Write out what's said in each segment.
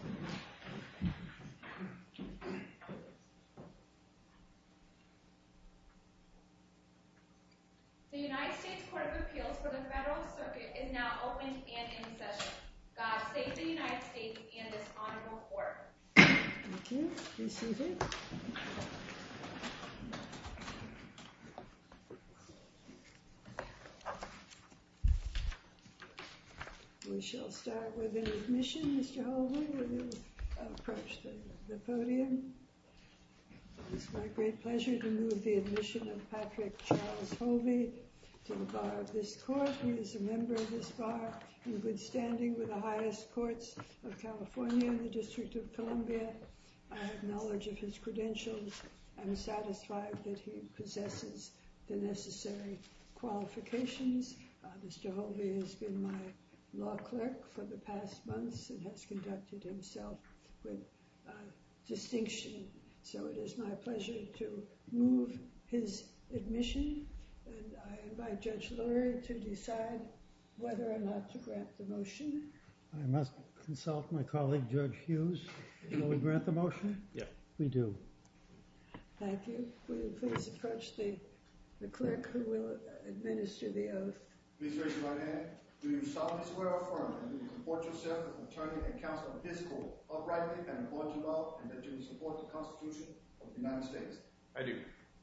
The United States Court of Appeals for the Federal Circuit is now open and in session. God save the United States and this Honorable Court. Thank you. Be seated. We shall start with an admission, Mr. Hovey, when you approach the podium. It is my great pleasure to move the admission of Patrick Charles Hovey to the bar of this court. He is a member of this bar in good standing with the highest courts of California and the District of Columbia. I have knowledge of his credentials and am satisfied that he possesses the necessary qualifications. Mr. Hovey has been my law clerk for the past months and has conducted himself with distinction. So it is my pleasure to move his admission and I invite Judge Lurie to decide whether or not to grant the motion. I must consult my colleague, Judge Hughes. Will we grant the motion? Yes. We do. Thank you. Will you please approach the clerk who will administer the oath. Please raise your right hand. Do you solemnly swear or affirm that you will support yourself as an attorney and counsel at this court, uprightly and in accordance with the law, and that you will support the Constitution of the United States? I do.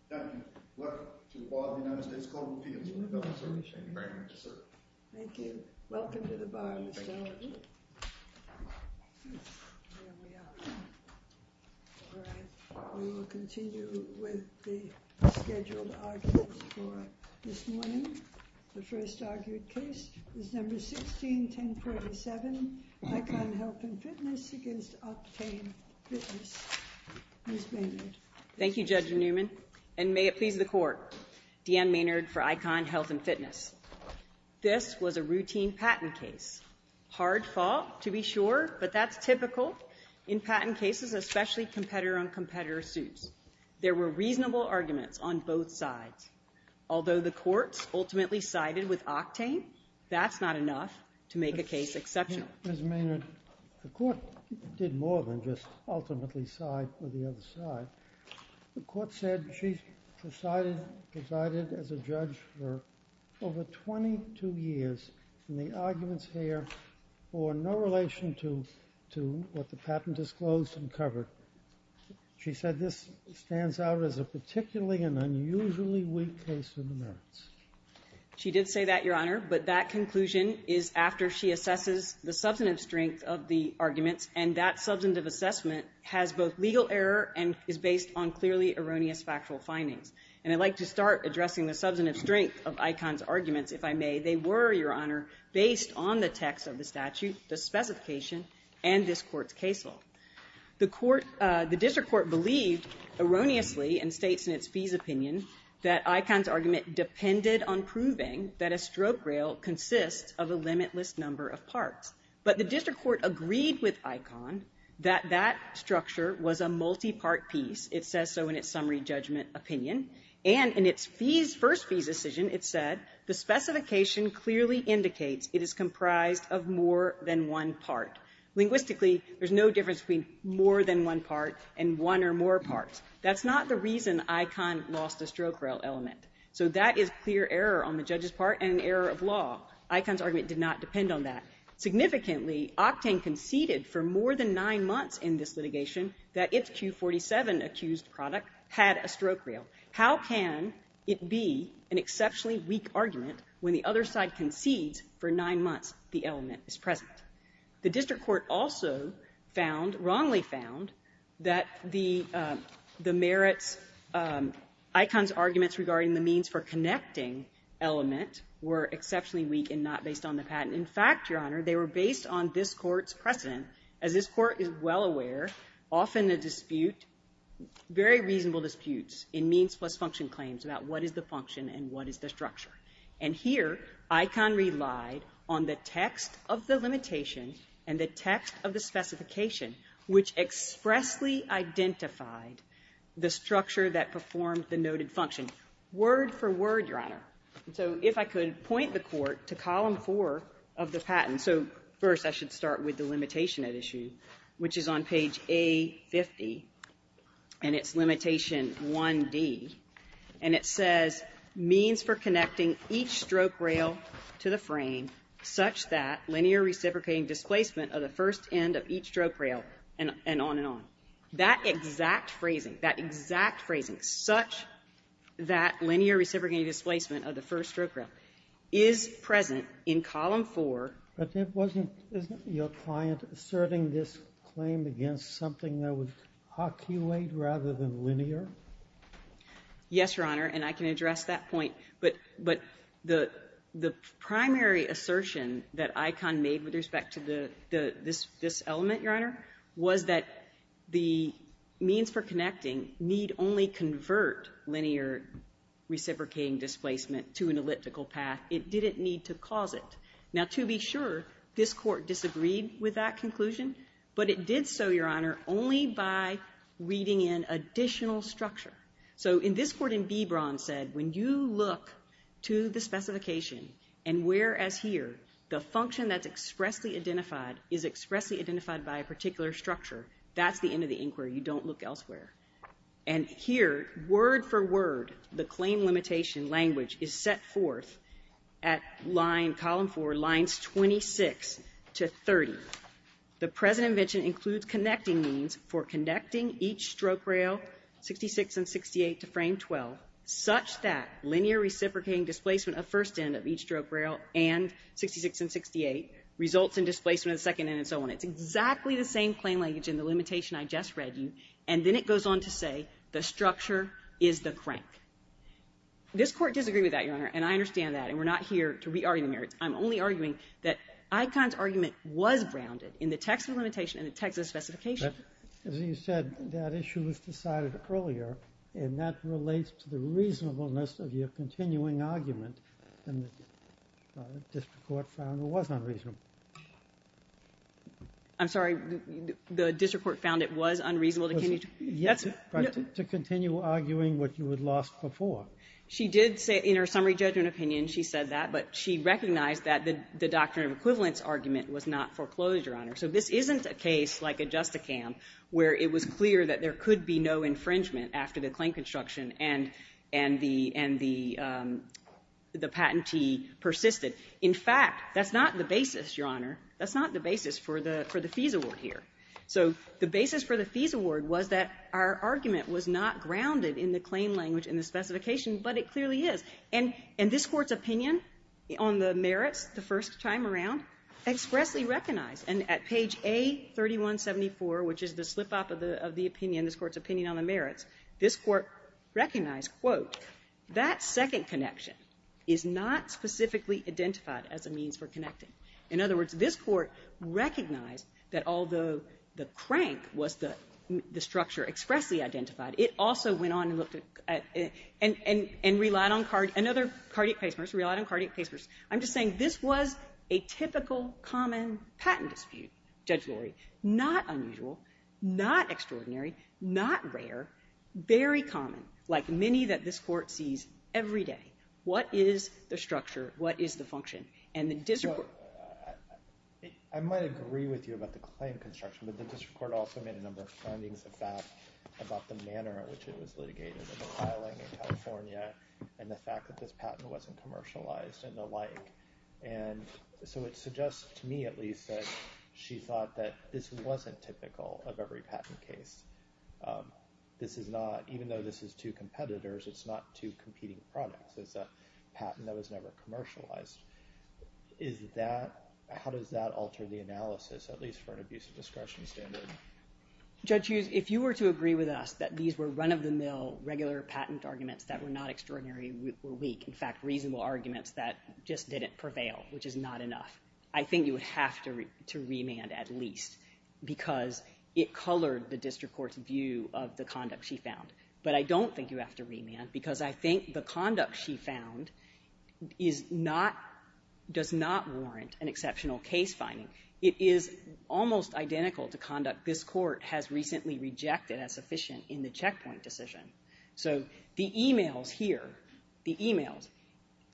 Thank you. Welcome to the bar of the United States Court of Appeals for the Federal Circuit. Thank you very much, sir. Thank you. Welcome to the bar, Mr. Hovey. There we are. All right. We will continue with the scheduled arguments for this morning. The first argued case is number 16-1047, ICON Health and Fitness against Optane Fitness. Ms. Maynard. Thank you, Judge Newman. And may it please the Court, Deanne Maynard for ICON Health and Fitness. This was a routine patent case. Hard fault, to be sure, but that's typical in patent cases, especially competitor-on-competitor suits. There were reasonable arguments on both sides. Although the courts ultimately sided with Octane, that's not enough to make a case exceptional. Ms. Maynard, the court did more than just ultimately side with the other side. The court said she presided as a judge for over 22 years. And the arguments here were in no relation to what the patent disclosed and covered. She said this stands out as a particularly and unusually weak case in the merits. She did say that, Your Honor. But that conclusion is after she assesses the substantive strength of the arguments. And that substantive assessment has both legal error and is based on clearly erroneous factual findings. And I'd like to start addressing the substantive strength of ICON's arguments, if I may. They were, Your Honor, based on the text of the statute, the specification, and this Court's case law. The District Court believed erroneously, and states in its fees opinion, that ICON's argument depended on proving that a stroke rail consists of a limitless number of parts. But the District Court agreed with ICON that that structure was a multi-part piece. It says so in its summary judgment opinion. And in its first fees decision, it said, the specification clearly indicates it is comprised of more than one part. Linguistically, there's no difference between more than one part and one or more parts. That's not the reason ICON lost the stroke rail element. So that is clear error on the judge's part and an error of law. ICON's argument did not depend on that. Significantly, Octane conceded for more than nine months in this litigation that its Q47 accused product had a stroke rail. How can it be an exceptionally weak argument when the other side concedes for nine months the element is present? The District Court also found, wrongly found, that the merits, ICON's arguments regarding the means for connecting element were exceptionally weak and not based on the patent. In fact, Your Honor, they were based on this Court's precedent, as this Court is well aware, often a dispute, very reasonable disputes in means plus function claims about what is the function and what is the structure. And here ICON relied on the text of the limitation and the text of the specification which expressly identified the structure that performed the noted function. Word for word, Your Honor. So if I could point the Court to column 4 of the patent. So first I should start with the limitation at issue, which is on page A50, and it's limitation 1D. And it says, means for connecting each stroke rail to the frame such that linear reciprocating displacement of the first end of each stroke rail, and on and on. That exact phrasing, that exact phrasing, such that linear reciprocating displacement of the first stroke rail is present in column 4. But it wasn't, isn't your client asserting this claim against something that would occulate rather than linear? Yes, Your Honor, and I can address that point. But the primary assertion that ICON made with respect to this element, Your Honor, was that the means for connecting need only convert linear reciprocating displacement to an elliptical path. It didn't need to cause it. Now, to be sure, this Court disagreed with that conclusion, but it did so, Your Honor, only by reading in additional structure. So in this Court in B. Braun said when you look to the specification and whereas here the function that's expressly identified is expressly identified by a particular structure, that's the end of the inquiry. You don't look elsewhere. And here, word for word, the claim limitation language is set forth at line, column 4, lines 26 to 30. The present invention includes connecting means for connecting each stroke rail, 66 and 68, to frame 12 such that linear reciprocating displacement of first end of each stroke rail and 66 and 68 results in displacement of the second end and so on. It's exactly the same claim language in the limitation I just read you. And then it goes on to say the structure is the crank. This Court disagreed with that, Your Honor, and I understand that. And we're not here to re-argue the merits. I'm only arguing that ICON's argument was grounded in the text of the limitation and the text of the specification. But as you said, that issue was decided earlier, and that relates to the reasonableness of your continuing argument, and the district court found it was unreasonable. I'm sorry. The district court found it was unreasonable to continue to argue what you had lost before. She did say in her summary judgment opinion, she said that, but she recognized that the doctrine of equivalence argument was not foreclosed, Your Honor. So this isn't a case like a Justicam where it was clear that there could be no infringement after the claim construction and the patentee persisted. In fact, that's not the basis, Your Honor. That's not the basis for the fees award here. So the basis for the fees award was that our argument was not grounded in the claim language and the specification, but it clearly is. And this Court's opinion on the merits the first time around expressly recognized. And at page A-3174, which is the slip-up of the opinion, this Court's opinion on the merits, this Court recognized, quote, that second connection is not specifically identified as a means for connecting. In other words, this Court recognized that although the crank was the structure expressly identified, it also went on and looked at and relied on another cardiac pacemers, relied on cardiac pacemers. I'm just saying this was a typical common patent dispute, Judge Lurie, not unusual, not extraordinary, not rare, very common, like many that this Court sees every day. What is the structure? What is the function? And the district court... I might agree with you about the claim construction, but the district court also made a number of findings of that about the manner in which it was litigated and the filing in California and the fact that this patent wasn't commercialized and the like. And so it suggests to me at least that she thought that this wasn't typical of every patent case. This is not... Even though this is two competitors, it's not two competing products. It's a patent that was never commercialized. Is that... How does that alter the analysis, at least for an abuse of discretion standard? Judge Hughes, if you were to agree with us that these were run-of-the-mill regular patent arguments that were not extraordinary or weak, in fact, reasonable arguments that just didn't prevail, which is not enough, I think you would have to remand at least because it colored the district court's view of the conduct she found. But I don't think you have to remand because I think the conduct she found does not warrant an exceptional case finding. It is almost identical to conduct this Court has recently rejected as sufficient in the checkpoint decision. So the e-mails here, the e-mails,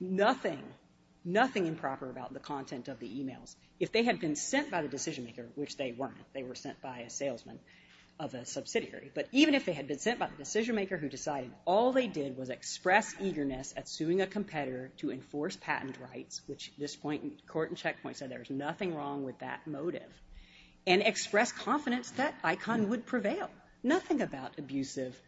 nothing improper about the content of the e-mails. If they had been sent by the decision-maker, which they weren't. They were sent by a salesman of a subsidiary. But even if they had been sent by the decision-maker who decided all they did was express eagerness at suing a competitor to enforce patent rights, which this point in court and checkpoint said there was nothing wrong with that motive, and express confidence that ICON would prevail. Nothing about abusive...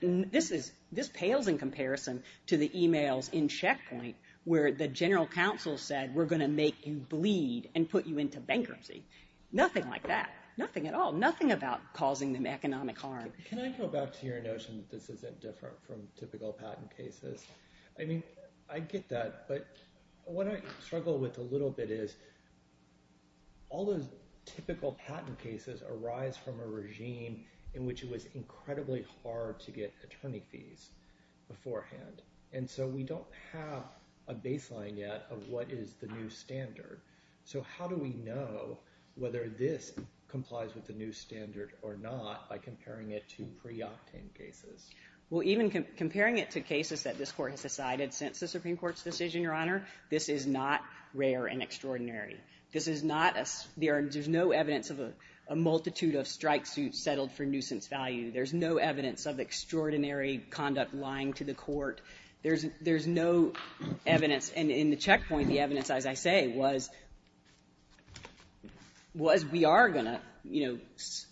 This pales in comparison to the e-mails in checkpoint where the general counsel said we're going to make you bleed and put you into bankruptcy. Nothing like that. Nothing at all. Nothing about causing them economic harm. Can I go back to your notion that this isn't different from typical patent cases? I mean, I get that, but what I struggle with a little bit is all those typical patent cases arise from a regime in which it was incredibly hard to get attorney fees beforehand. And so we don't have a baseline yet of what is the new standard. So how do we know whether this complies with the new standard or not by comparing it to pre-octane cases? Well, even comparing it to cases that this Court has decided since the Supreme Court's decision, Your Honor, this is not rare and extraordinary. This is not a... There's no evidence of a multitude of strike suits settled for nuisance value. There's no evidence of extraordinary conduct lying to the court. There's no evidence. And in the checkpoint, the evidence, as I say, was we are going to, you know,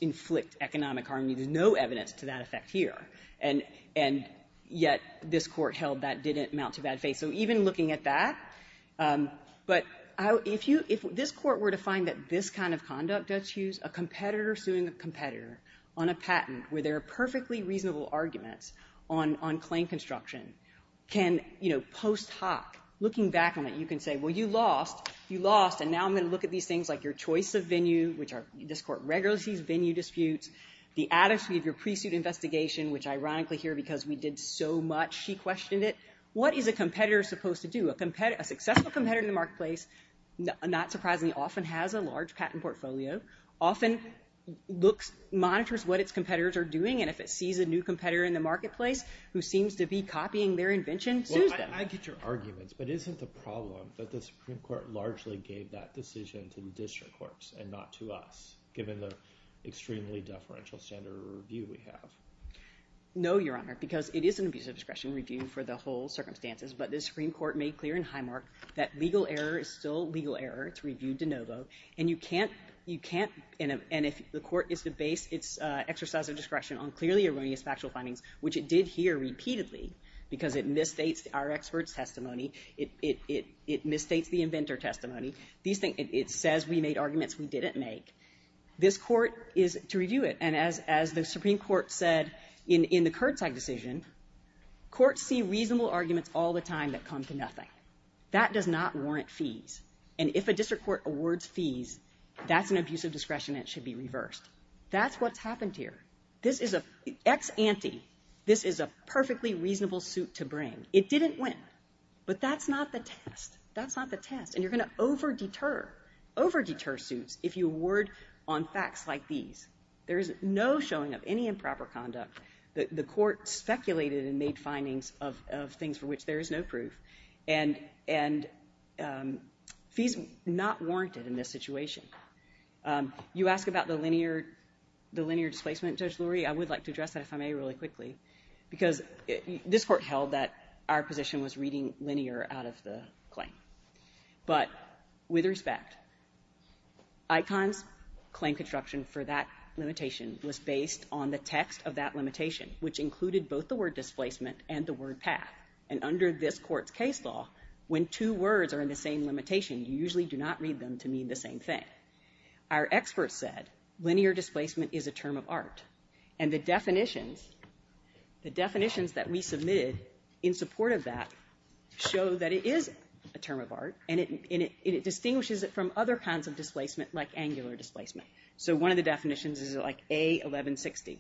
inflict economic harm. There's no evidence to that effect here. And yet this Court held that didn't amount to bad faith. So even looking at that, but if this Court were to find that this kind of conduct eschews a competitor suing a competitor on a patent where there are perfectly reasonable arguments on claim construction, can, you know, post hoc, looking back on it, you can say, well, you lost, you lost, and now I'm going to look at these things like your choice of venue, which this Court regularly sees venue disputes, the attitude of your pre-suit investigation, which ironically here because we did so much, she questioned it. What is a competitor supposed to do? A successful competitor in the marketplace, not surprisingly, often has a large patent portfolio, often looks, monitors what its competitors are doing, and if it sees a new competitor in the marketplace who seems to be copying their invention, sues them. Well, I get your arguments, but isn't the problem that the Supreme Court largely gave that decision to the district courts and not to us, given the extremely deferential standard of review we have? No, Your Honor, because it is an abuse of discretion review for the whole circumstances, but the Supreme Court made clear in Highmark that legal error is still legal error, it's reviewed de novo, and you can't, you can't, and if the Court is to base its exercise of discretion on clearly erroneous factual findings, which it did here repeatedly because it misstates our experts' testimony, it misstates the inventor testimony, these things, it says we made arguments we didn't make. This Court is to review it, and as the Supreme Court said in the Kurzsag decision, courts see reasonable arguments all the time that come to fees, and if a district court awards fees, that's an abuse of discretion and it should be reversed. That's what's happened here. This is an ex ante, this is a perfectly reasonable suit to bring. It didn't win, but that's not the test, that's not the test, and you're going to over-deter, over-deter suits if you award on facts like these. There is no showing of any improper conduct. The Court speculated and made findings of things for which there is no proof, and fees are not warranted in this situation. You ask about the linear displacement, Judge Lurie, I would like to address that, if I may, really quickly, because this Court held that our position was reading linear out of the claim, but with respect, ICON's claim construction for that limitation was based on the text of that limitation, which included both the word displacement and the word path, and under this Court's case law, when two words are in the same limitation, you usually do not read them to mean the same thing. Our experts said linear displacement is a term of art, and the definitions, the definitions that we submitted in support of that show that it is a term of art, and it distinguishes it from other kinds of displacement like angular displacement. So one of the definitions is like A1160,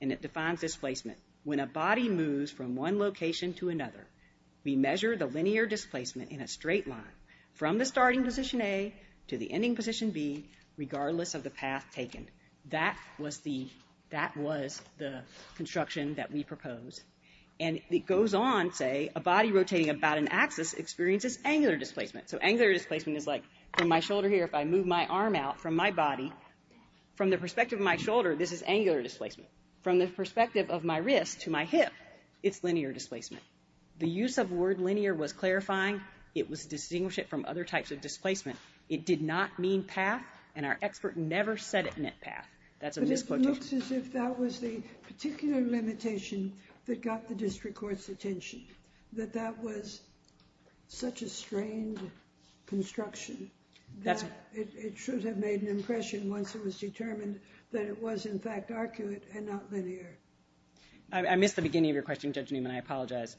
and it defines displacement. When a body moves from one location to another, we measure the linear displacement in a straight line from the starting position A to the ending position B, regardless of the path taken. That was the construction that we proposed. And it goes on, say, a body rotating about an axis experiences angular displacement. So angular displacement is like from my shoulder here, if I move my arm out from my body, from the perspective of my shoulder, this is angular displacement. From the perspective of my wrist to my hip, it's linear displacement. The use of the word linear was clarifying. It was distinguishing it from other types of displacement. It did not mean path, and our expert never said it meant path. That's a misquotation. But it looks as if that was the particular limitation that got the District Court's attention, that that was such a strained construction that it should have made an impression once it was determined that it was, in fact, arcuate and not linear. I missed the beginning of your question, Judge Newman. I apologize.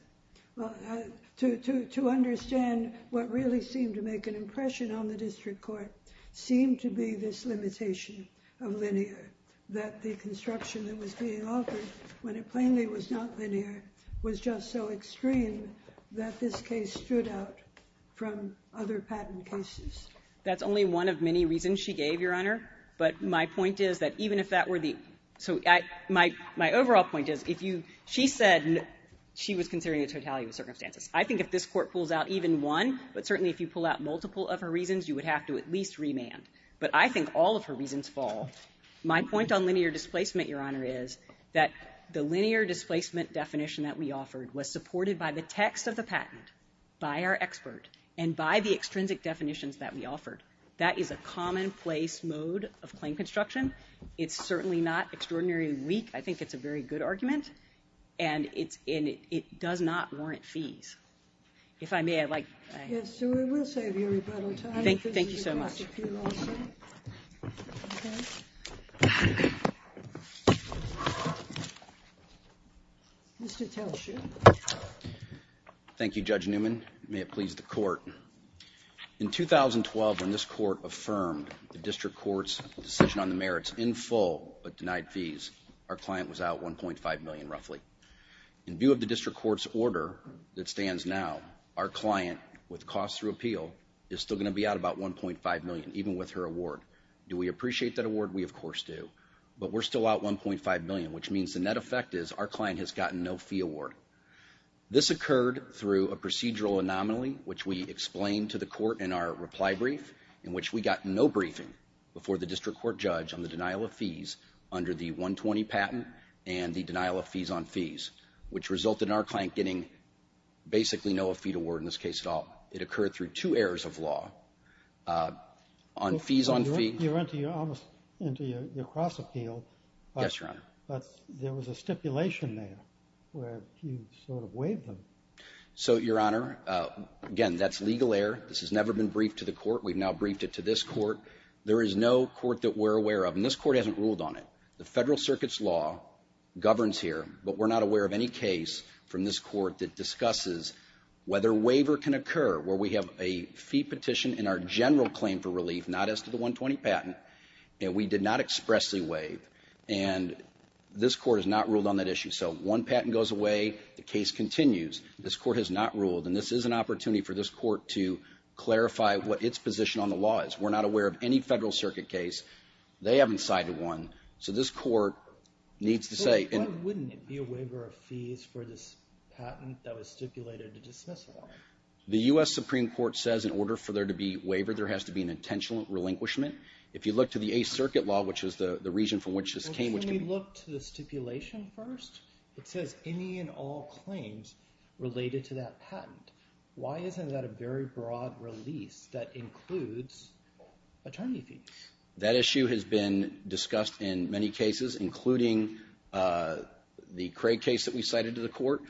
To understand what really seemed to make an impression on the District Court seemed to be this limitation of linear, that the construction that was being offered when it plainly was not linear was just so extreme that this case stood out from other patent cases. That's only one of many reasons she gave, Your Honor. But my point is that even if that were the... My overall point is she said she was considering a totality of circumstances. I think if this Court pulls out even one, but certainly if you pull out multiple of her reasons, you would have to at least remand. But I think all of her reasons fall. My point on linear displacement, Your Honor, is that the linear displacement definition that we offered was supported by the text of the patent, by our expert, and by the extrinsic definitions that we offered. That is a commonplace mode of claim construction. It's certainly not extraordinarily weak. I think it's a very good argument. And it does not warrant fees. If I may, I'd like... Yes, we will save you rebuttal time. Thank you so much. Mr. Telsche. Thank you, Judge Newman. May it please the Court. In 2012, when this Court affirmed the District Court's decision on the merits in full but denied fees, our client was out $1.5 million, roughly. In view of the District Court's order that stands now, our client with cost through appeal is still going to be out about $1.5 million, even with her award. Do we appreciate that award? We, of course, do. But we're still out $1.5 million, which means the net effect is our client has gotten no fee award. This occurred through a procedural anomaly, which we explained to the Court in our reply brief, in which we got no briefing before the District Court judge on the denial of fees under the 120 patent and the denial of fees on fees, which resulted in our client getting basically no fee award in this case at all. It occurred through two errors of law. On fees on fee... You went into your cross-appeal. Yes, Your Honor. But there was a stipulation there where you sort of waived them. So, Your Honor, again, that's legal error. This has never been briefed to the Court. We've now briefed it to this Court. There is no Court that we're aware of, and this Court hasn't ruled on it. The Federal Circuit's law governs here, but we're not aware of any case from this Court that discusses whether waiver can occur where we have a fee petition in our general claim for relief, not as to the 120 patent, and we did not expressly waive. And this Court has not ruled on that issue. So one patent goes away, the case continues. This Court has not ruled, and this is an opportunity for this Court to clarify what its position on the law is. We're not aware of any Federal Circuit case. They haven't cited one. So this Court needs to say... Why wouldn't it be a waiver of fees for this patent that was stipulated to dismissal? The U.S. Supreme Court says in order for there to be a waiver, there has to be an intentional relinquishment. If you look to the Eighth Circuit law, which is the region from which this came... Well, can we look to the stipulation first? It says any and all claims related to that patent. Why isn't that a very broad release that includes attorney fees? That issue has been discussed in many cases, including the Craig case that we cited to the Court.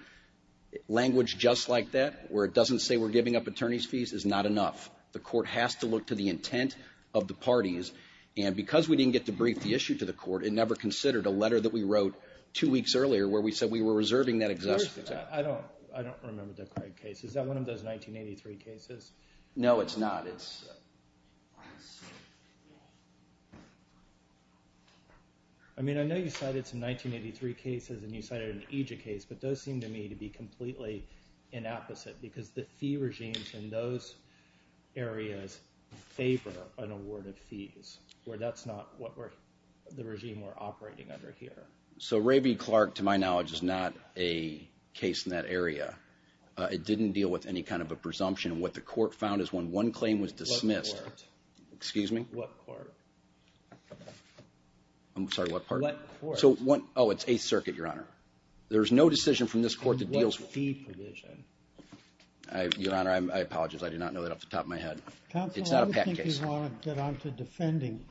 Language just like that, where it doesn't say we're giving up attorney's fees, is not enough. The Court has to look to the intent of the parties. And because we didn't get to brief the issue to the Court, it never considered a letter that we wrote two weeks earlier where we said we were reserving that existing... I don't remember the Craig case. Is that one of those 1983 cases? No, it's not. I mean, I know you cited some 1983 cases and you cited an AJA case, but those seem to me to be completely inapposite, because the fee regimes in those areas favor an award of fees, where that's not what the regime were operating under here. So Raby-Clark, to my knowledge, is not a case in that area. It didn't deal with any kind of a presumption. What the Court found is when one claim was dismissed... What Court? Excuse me? What Court? I'm sorry, what part? What Court? Oh, it's Eighth Circuit, Your Honor. There's no decision from this Court that deals... And what fee provision? Your Honor, I apologize. I did not know that off the top of my head. It's not a patent case. I didn't want to get onto defending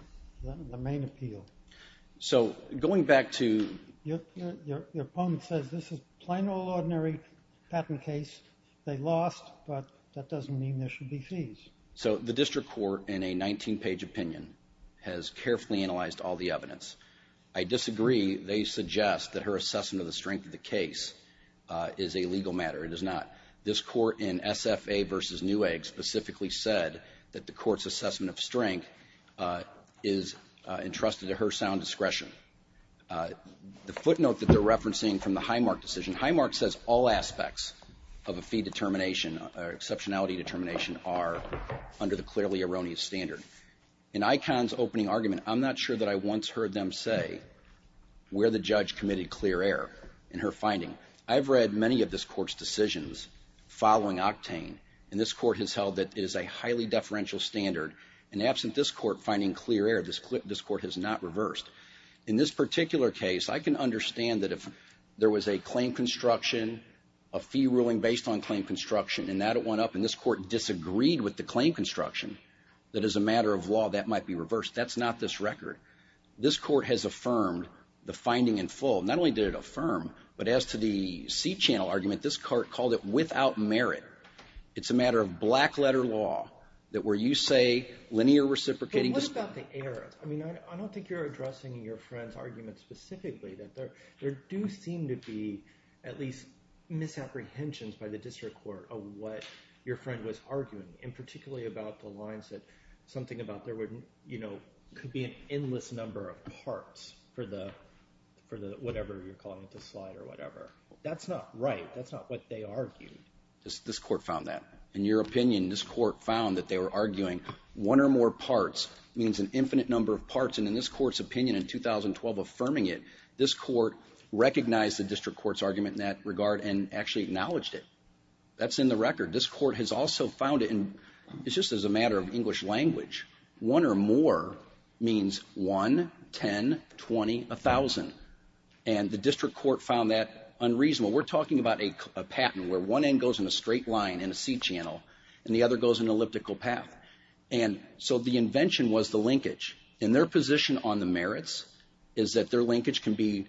the main appeal. So going back to... Your opponent says this is a plain old ordinary patent case. They lost, but that doesn't mean there should be fees. So the District Court, in a 19-page opinion, has carefully analyzed all the evidence. I disagree. They suggest that her assessment of the strength of the case is a legal matter. It is not. This Court in SFA v. Newegg specifically said that the Court's assessment of strength is entrusted to her sound discretion. The footnote that they're referencing from the Highmark decision, Highmark says all aspects of a fee determination or exceptionality determination are under the clearly erroneous standard. In Icahn's opening argument, I'm not sure that I once heard them say where the judge committed clear error in her finding. I've read many of this Court's decisions following Octane, and this Court has held that it is a highly deferential standard. And absent this Court finding clear error, this Court has not reversed. In this particular case, I can understand that if there was a claim construction, a fee ruling based on claim construction, and that went up, and this Court disagreed with the claim construction, that as a matter of law, that might be reversed. That's not this record. This Court has affirmed the finding in full. Not only did it affirm, but as to the C-channel argument, this Court called it without merit. It's a matter of black letter law that where you say linear reciprocating... I mean, I don't think you're addressing your friend's argument specifically. There do seem to be at least misapprehensions by the district court of what your friend was arguing, and particularly about the lines that something about there would, you know, could be an endless number of parts for the whatever you're calling it, the slide or what they argued. This Court found that. In your opinion, this Court found that they were arguing one or more parts means an infinite number of parts, and in this Court's opinion in 2012 affirming it, this Court recognized the district court's argument in that regard and actually acknowledged it. That's in the record. This Court has also found it, and it's just as a matter of English language. One or more means one, ten, twenty, a thousand. And the district court found that a patent where one end goes in a straight line in a C channel and the other goes in an elliptical path. And so the invention was the linkage. And their position on the merits is that their linkage can be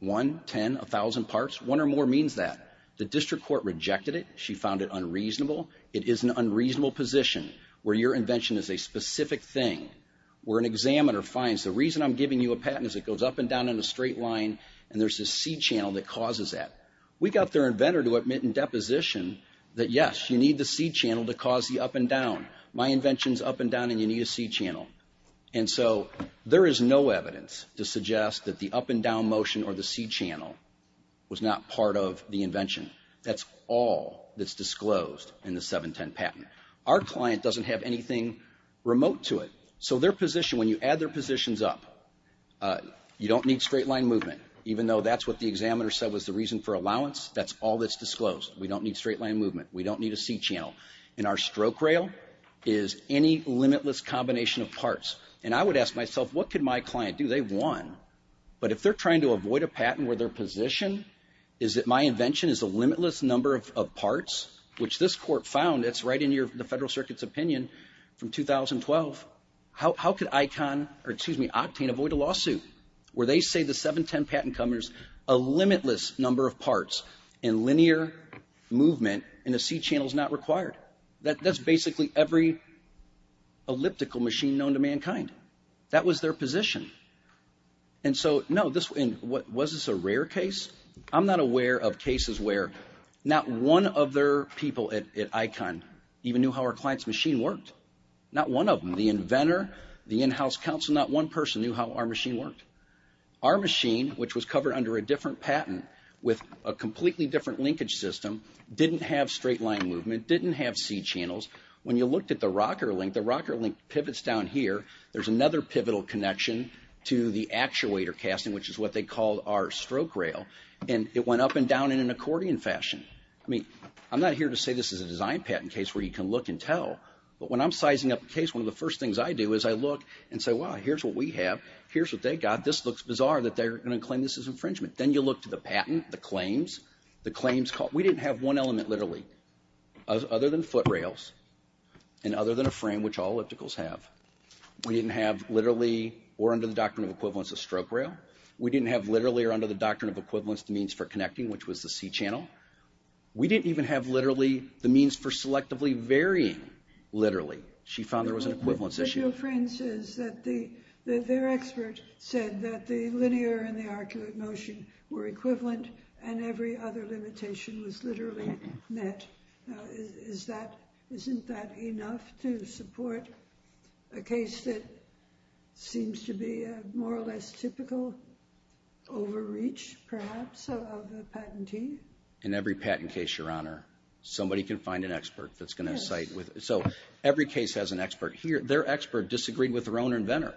one, ten, a thousand parts. One or more means that. The district court rejected it. She found it unreasonable. It is an unreasonable position where your invention is a specific thing, where an examiner finds the reason I'm giving you a patent is it goes up and down in a straight line, and there's this C channel that causes that. We got their inventor to admit in deposition that, yes, you need the C channel to cause the up and down. My invention's up and down, and you need a C channel. And so there is no evidence to suggest that the up and down motion or the C channel was not part of the invention. That's all that's disclosed in the 710 patent. Our client doesn't have anything remote to it. So their position, when you add their positions up, you don't need a straight line movement, even though that's what the examiner said was the reason for allowance. That's all that's disclosed. We don't need straight line movement. We don't need a C channel. And our stroke rail is any limitless combination of parts. And I would ask myself, what could my client do? They've won. But if they're trying to avoid a patent where their position is that my invention is a limitless number of parts, which this Court found, it's right in the Federal Circuit's opinion from 2012, how could Octane avoid a lawsuit where they say the 710 patent covers a limitless number of parts and linear movement and a C channel is not required? That's basically every elliptical machine known to mankind. That was their position. And so, no, was this a rare case? I'm not aware of cases where not one of their people at ICON even knew how our client's machine worked. Not one of them. The inventor, the in-house counsel, not one person knew how our machine worked. Our machine, which was covered under a different patent with a completely different linkage system, didn't have straight line movement, didn't have C channels. When you looked at the rocker link, the rocker link pivots down here. There's another pivotal connection to the actuator casting, which is what they called our stroke rail. And it went up and down in an accordion fashion. I mean, I'm not here to say this is a design patent case where you can look and tell. But when I'm sizing up a case, one of the first things I do is I look and say, well, here's what we have. Here's what they got. This looks bizarre that they're going to claim this as infringement. Then you look to the patent, the claims. We didn't have one element, literally, other than foot rails and other than a frame, which all ellipticals have. We didn't have, literally, or under the doctrine of equivalence, a stroke rail. We didn't have, literally or under the doctrine of equivalence, the means for connecting, which was the C channel. We didn't even have, literally, the means for selectively varying, literally. She found there was an equivalence issue. Your friend says that their expert said that the linear and the arcuate motion were equivalent and every other limitation was literally met. Isn't that enough to support a case that seems to be a more or less typical overreach, perhaps, of a patentee? In every patent case, Your Honor, somebody can find an expert that's going to cite. So every case has an expert. Their expert disagreed with their own inventor.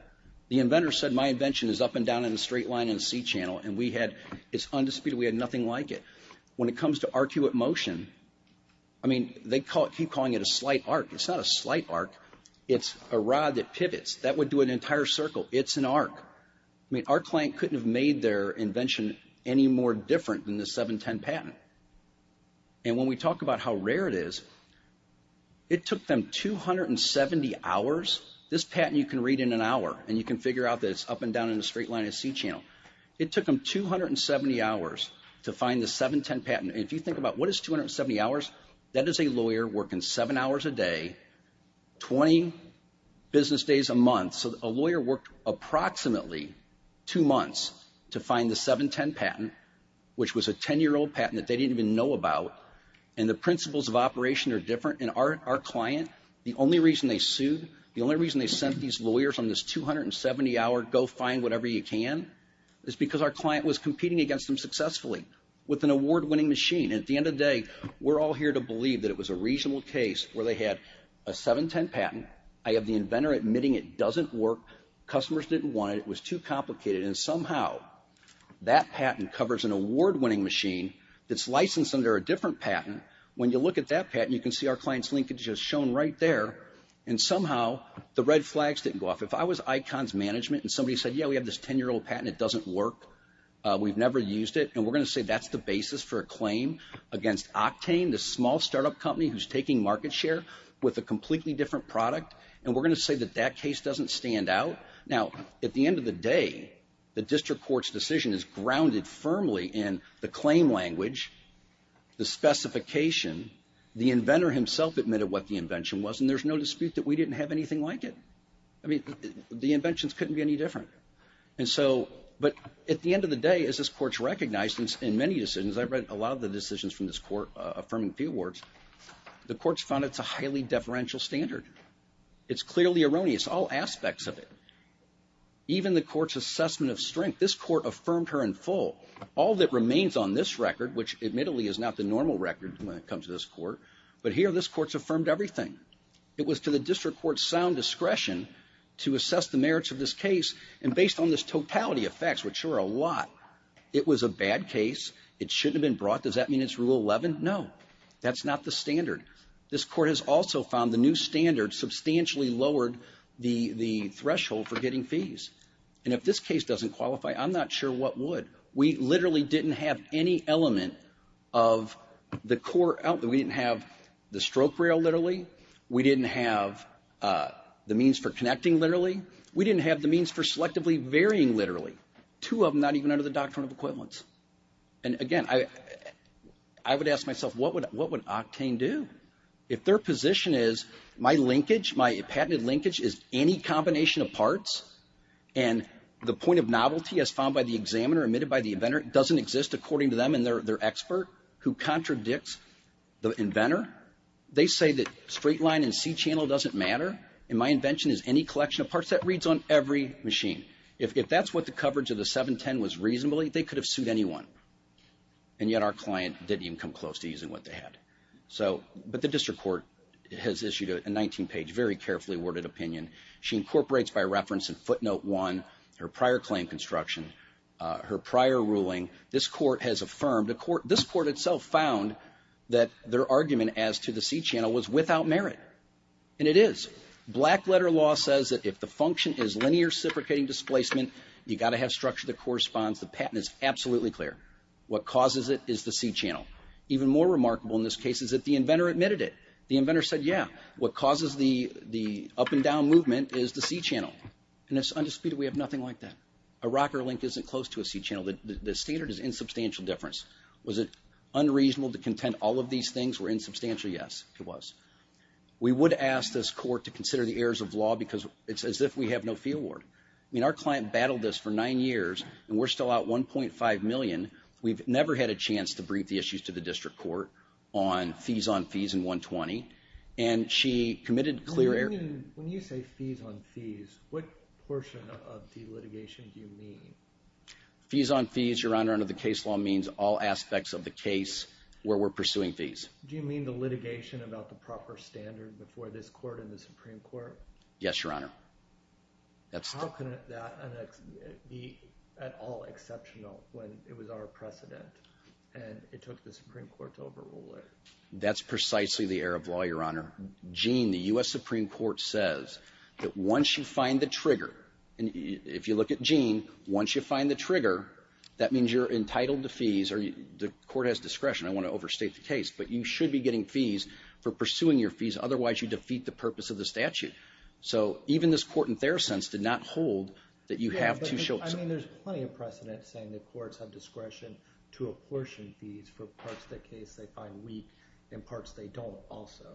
The inventor said my invention is up and down in a straight line in a C channel and we had it's undisputed. We had nothing like it. When it comes to arcuate motion, I mean, they keep calling it a slight arc. It's not a slight arc. It's a rod that pivots. That would do an entire circle. It's an arc. I mean, our client couldn't have made their invention any more different than the 710 patent. And when we talk about how rare it is, it took them 270 hours. This patent you can read in an hour and you can figure out that it's up and down in a straight line in a C channel. It took them 270 hours to find the 710 patent. If you think about what is 270 hours, that is a lawyer working seven hours a day, 20 business days a month. So a lawyer worked approximately two months to find the 710 patent, which was a 10-year-old patent that they didn't even know about. And the principles of operation are different. And our client, the only reason they sued, the only reason they sent these lawyers on this 270 hour go-find-whatever-you-can is because our client was competing against them successfully with an award-winning machine. And at the end of the day, we're all here to believe that it was a reasonable case where they had a 710 patent. I have the inventor admitting it doesn't work. Customers didn't want it. It was too expensive. That patent covers an award-winning machine that's licensed under a different patent. When you look at that patent, you can see our client's linkages shown right there. And somehow the red flags didn't go off. If I was icons management and somebody said, yeah, we have this 10-year-old patent, it doesn't work. We've never used it. And we're going to say that's the basis for a claim against Octane, the small startup company who's taking market share with a completely different product. And we're going to say that that case doesn't stand out. Now, at the end of the day, the district court's decision is grounded firmly in the claim language, the specification, the inventor himself admitted what the invention was, and there's no dispute that we didn't have anything like it. I mean, the inventions couldn't be any different. And so, but at the end of the day, as this court's recognized in many decisions, I've read a lot of the decisions from this court affirming few awards, the court's found it's a highly deferential standard. It's clearly erroneous, all aspects of it. Even the court's assessment of strength. This court affirmed her in full. All that remains on this record, which admittedly is not the normal record when it comes to this court, but here this court's affirmed everything. It was to the district court's sound discretion to assess the merits of this case and based on this totality of facts, which are a lot, it was a bad case. It shouldn't have been brought. Does that mean it's Rule 11? No. That's not the standard. This court has also found the new standard substantially lowered the threshold for getting fees. And if this case doesn't qualify, I'm not sure what would. We literally didn't have any element of the core, we didn't have the stroke rail, literally. We didn't have the means for connecting, literally. We didn't have the means for selectively varying, literally. Two of them not even under the doctrine of equivalence. And again, I would ask myself, what would Octane do? If their position is my linkage, my patented linkage is any combination of parts and the point of novelty as found by the examiner, admitted by the inventor, doesn't exist according to them and their expert who contradicts the inventor, they say that straight line and C channel doesn't matter, and my invention is any collection of parts. That reads on every machine. If that's what the coverage of the 710 was reasonably, they could have sued anyone. And yet our client didn't even come close to using what they had. So, but the district court has issued a 19 page, very carefully worded opinion. She incorporates by reference in footnote 1 her prior claim construction, her prior ruling. This court has affirmed, this court itself found that their argument as to the C channel was without merit. And it is. Black letter law says that if the function is linear suffocating displacement, you've got to have structure that corresponds. The patent is absolutely clear. What causes it is the C channel. Even more remarkable in this case is that the inventor admitted it. The inventor said, yeah, what causes the up and down movement is the C channel. And it's undisputed we have nothing like that. A rocker link isn't close to a C channel. The standard is insubstantial difference. Was it unreasonable to contend all of these things were insubstantial? Yes, it was. We would ask this court to consider the errors of law because it's as if we have no fee award. I mean, our client battled this for nine years and we're still out 1.5 million. We've never had a chance to brief the issues to the district court on fees on fees in 120. And she committed clear air when you say fees on fees, what portion of the litigation do you mean? Fees on fees, your honor, under the case law means all aspects of the case where we're pursuing fees. Do you mean the litigation about the proper standard before this court in the Supreme Court? Yes, your honor. That's how can that be at all exceptional when it was our precedent and it took the Supreme Court to overrule it. That's precisely the error of law, your honor. Gene, the U.S. Supreme Court says that once you find the trigger and if you look at Gene, once you find the trigger that means you're entitled to fees or the court has discretion. I want to overstate the case, but you should be getting fees for pursuing your fees. Otherwise, you defeat the purpose of the statute. So even this court in their sense did not hold that you have to show. I mean, there's plenty of precedent saying the courts have discretion to apportion fees for parts of the case they find weak and parts they don't also.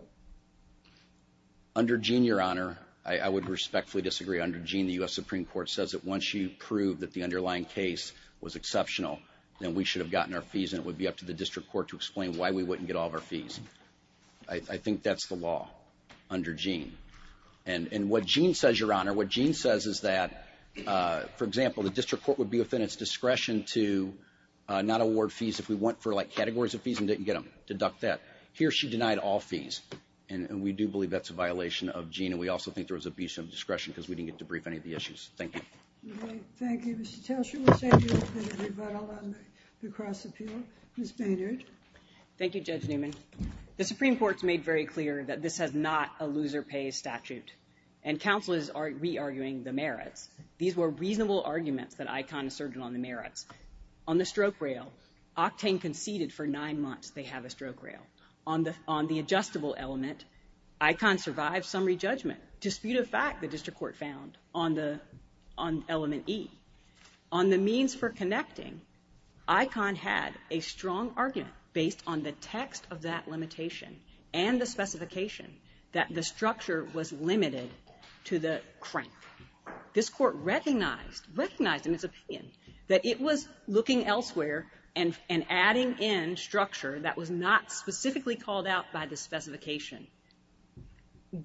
Under Gene, your honor, I would respectfully disagree. Under Gene, the U.S. Supreme Court says that once you prove that the underlying case was exceptional, then we should have gotten our fees and it would be up to the district court to explain why we wouldn't get all of our fees. I think that's the law under Gene. And what Gene says, your honor, what Gene says is that, for example, the district court would be within its discretion to not award fees if we went for, like, categories of fees and didn't get them. Deduct that. Here, she denied all fees. And we do believe that's a violation of Gene and we also think there was abuse of discretion because we didn't get to brief any of the issues. Thank you. Thank you, Mr. Taylor. We'll save you the rebuttal on the cross-appeal. Ms. Maynard. Thank you, Judge Newman. The Supreme Court's made very clear that this has not a loser pays statute. And counsel is re-arguing the merits. These were reasonable arguments that ICON asserted on the merits. On the stroke rail, Octane conceded for nine months they have a stroke rail. On the adjustable element, ICON survived summary judgment. Dispute of fact, the district court found on element E. On the means for connecting, ICON had a strong argument based on the text of that limitation and the specification that the structure was limited to the crank. This Court recognized, recognized in its opinion that it was looking elsewhere and adding in structure that was not specifically called out by the specification.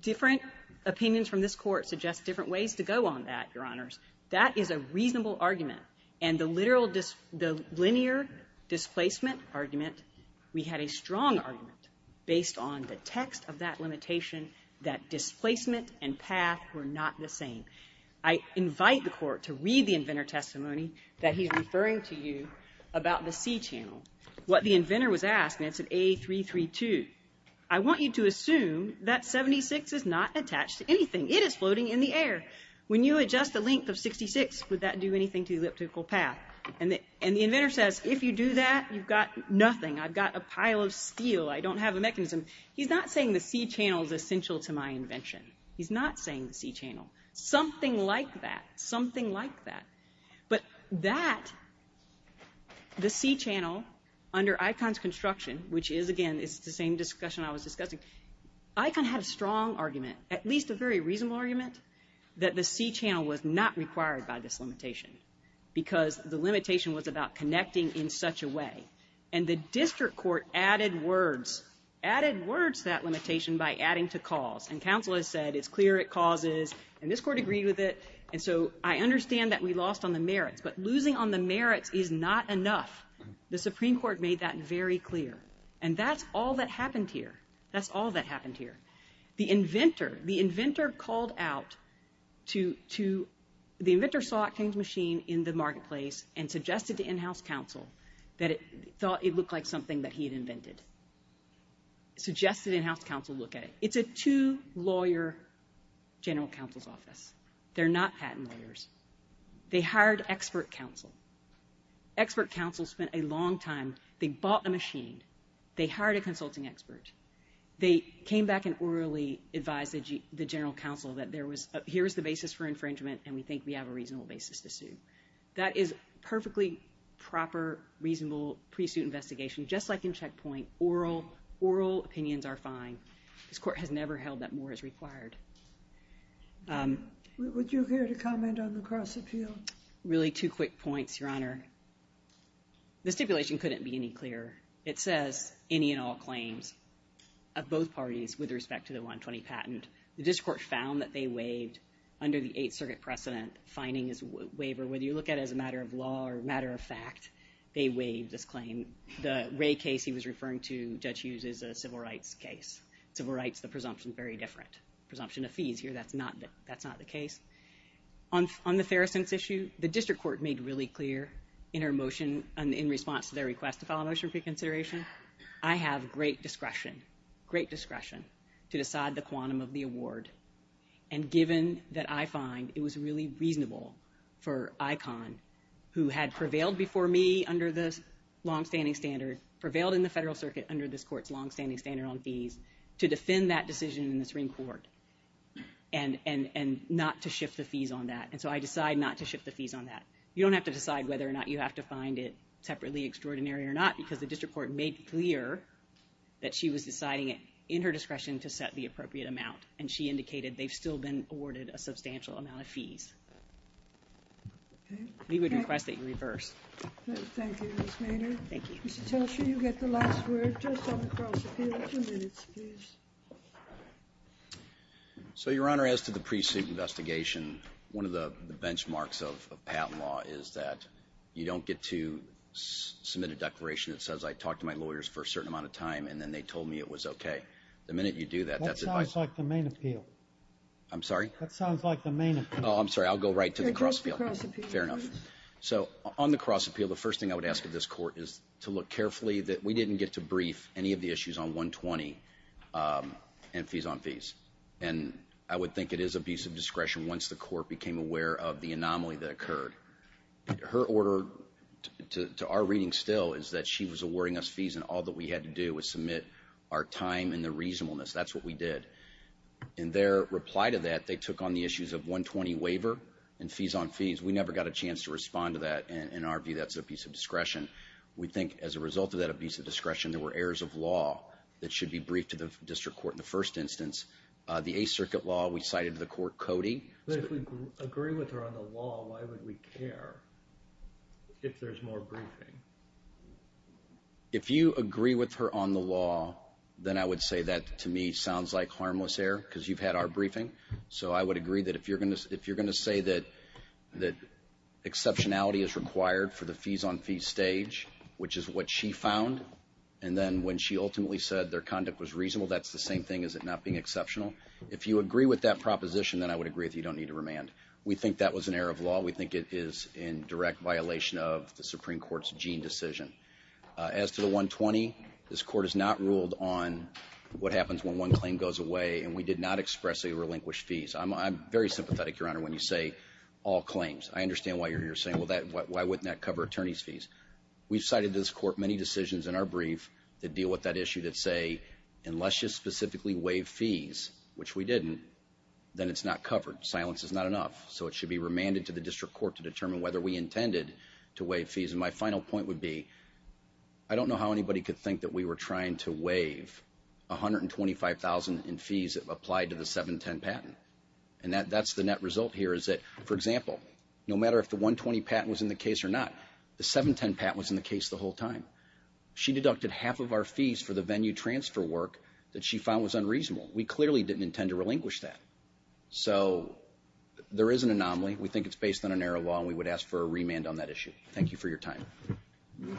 Different opinions from this Court suggest different ways to go on that, Your Honors. That is a reasonable argument. And the literal dis the linear displacement argument, we had a strong argument based on the text of that limitation that displacement and path were not the same. I invite the Court to read the inventor testimony that he is referring to you about the C channel. What the inventor was asked, and it's at A332, I want you to assume that 76 is not attached to anything. It is floating in the air. When you adjust the length of 66, would that do anything to the elliptical path? And the inventor says, if you do that, you've got a pile of steel. I don't have a mechanism. He's not saying the C channel is essential to my invention. He's not saying the C channel. Something like that. Something like that. But that the C channel under ICON's construction, which is again the same discussion I was discussing, ICON had a strong argument, at least a very reasonable argument, that the C channel was not required by this limitation because the limitation was about connecting in such a way. And the District Court added words, added words to that limitation by adding to cause. And counsel has said it's clear it causes and this Court agreed with it. And so I understand that we lost on the merits but losing on the merits is not enough. The Supreme Court made that very clear. And that's all that happened here. That's all that happened here. The inventor, the inventor called out to, the inventor saw King's Machine in the marketplace and suggested to in-house counsel that it looked like something that he had invented. Suggested in-house counsel look at it. It's a two lawyer general counsel's office. They're not patent lawyers. They hired expert counsel. Expert counsel spent a long time. They bought the machine. They hired a consulting expert. They came back and orally advised the general counsel that here is the basis for infringement and we think we have a reasonable basis to go forward with it. It's a perfectly proper, reasonable pre-suit investigation just like in Checkpoint. Oral opinions are fine. This Court has never held that more is required. Would you care to comment on the cross-appeal? Really two quick points, Your Honor. The stipulation couldn't be any clearer. It says any and all claims of both parties with respect to the 120 patent. The District Court found that they waived under the Eighth Circuit precedent, fining is a waiver. Whether you look at it as a matter of law or a matter of fact, they waived this claim. The Ray case he was referring to, Judge Hughes, is a civil rights case. Civil rights, the presumption is very different. Presumption of fees here, that's not the case. On the Feruson's issue, the District Court made really clear in response to their request to file a motion for reconsideration, I have great discretion to decide the quantum of the fees that I find it was really reasonable for Icahn who had prevailed before me under the long-standing standard, prevailed in the Federal Circuit under this Court's long-standing standard on fees, to defend that decision in the Supreme Court and not to shift the fees on that. So I decide not to shift the fees on that. You don't have to decide whether or not you have to find it separately extraordinary or not because the District Court made clear that she was deciding it in her discretion to set the appropriate amount and she indicated they've still been awarded a substantial amount of fees. We would request that you reverse. Thank you, Ms. Maynard. Mr. Telsher, you get the last word just on the cross-appeal. Two minutes, please. So, Your Honor, as to the pre-suit investigation, one of the benchmarks of patent law is that you don't get to submit a declaration that says I talked to my lawyers for a certain amount of time and then they told me it was okay. The minute you do that, that's advice. That sounds like the main appeal. I'm sorry? That sounds like the main appeal. Oh, I'm sorry. I'll go right to the cross-appeal. Fair enough. So on the cross-appeal, the first thing I would ask of this Court is to look carefully that we didn't get to brief any of the issues on 120 and fees on fees. And I would think it is abuse of discretion once the Court became aware of the anomaly that occurred. Her order to our reading still is that she was awarding us fees and all that we had to do was submit our time and the reasonableness. That's what we did. In their reply to that, they took on the issues of 120 waiver and fees on fees. We never got a chance to respond to that. In our view, that's abuse of discretion. We think as a result of that abuse of discretion, there were errors of law that should be briefed to the District Court in the first instance. The Eighth Circuit law, we cited to the Court Cody. But if we agree with her on the law, why would we care if there's more briefing? If you agree with her on the law, then I would say that to me sounds like harmless error because you've had our briefing. So I would agree that if you're going to say that exceptionality is required for the fees on fees stage, which is what she found, and then when she ultimately said their conduct was reasonable, that's the same thing as it not being exceptional. If you agree with that proposition, then I would agree that you don't need to remand. We think that was an error of law. We think it is in direct violation of the Supreme Court's Jean decision. As to the 120, this Court has not ruled on what happens when one claim goes away, and we did not express a relinquished fees. I'm very sympathetic, Your Honor, when you say all claims. I understand why you're here saying, well, why wouldn't that cover attorney's fees? We've cited to this Court many decisions in our brief that deal with that issue that say, unless you specifically waive fees, which we didn't, then it's not covered. Silence is not enough. So it should be remanded to the District Court to determine whether we intended to waive fees. And my final point would be, I don't know how anybody could think that we were trying to waive $125,000 in fees applied to the 710 patent. And that's the net result here, is that, for example, no matter if the 120 patent was in the case or not, the 710 patent was in the case the whole time. She deducted half of our fees for the venue transfer work that she found was unreasonable. We clearly didn't intend to relinquish that. So there is an anomaly. We think it's based on an error law, and we would ask for a remand on that issue. Thank you for your time. Okay.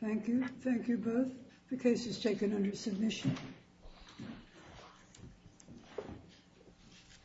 Thank you. Thank you both. The case is taken under submission.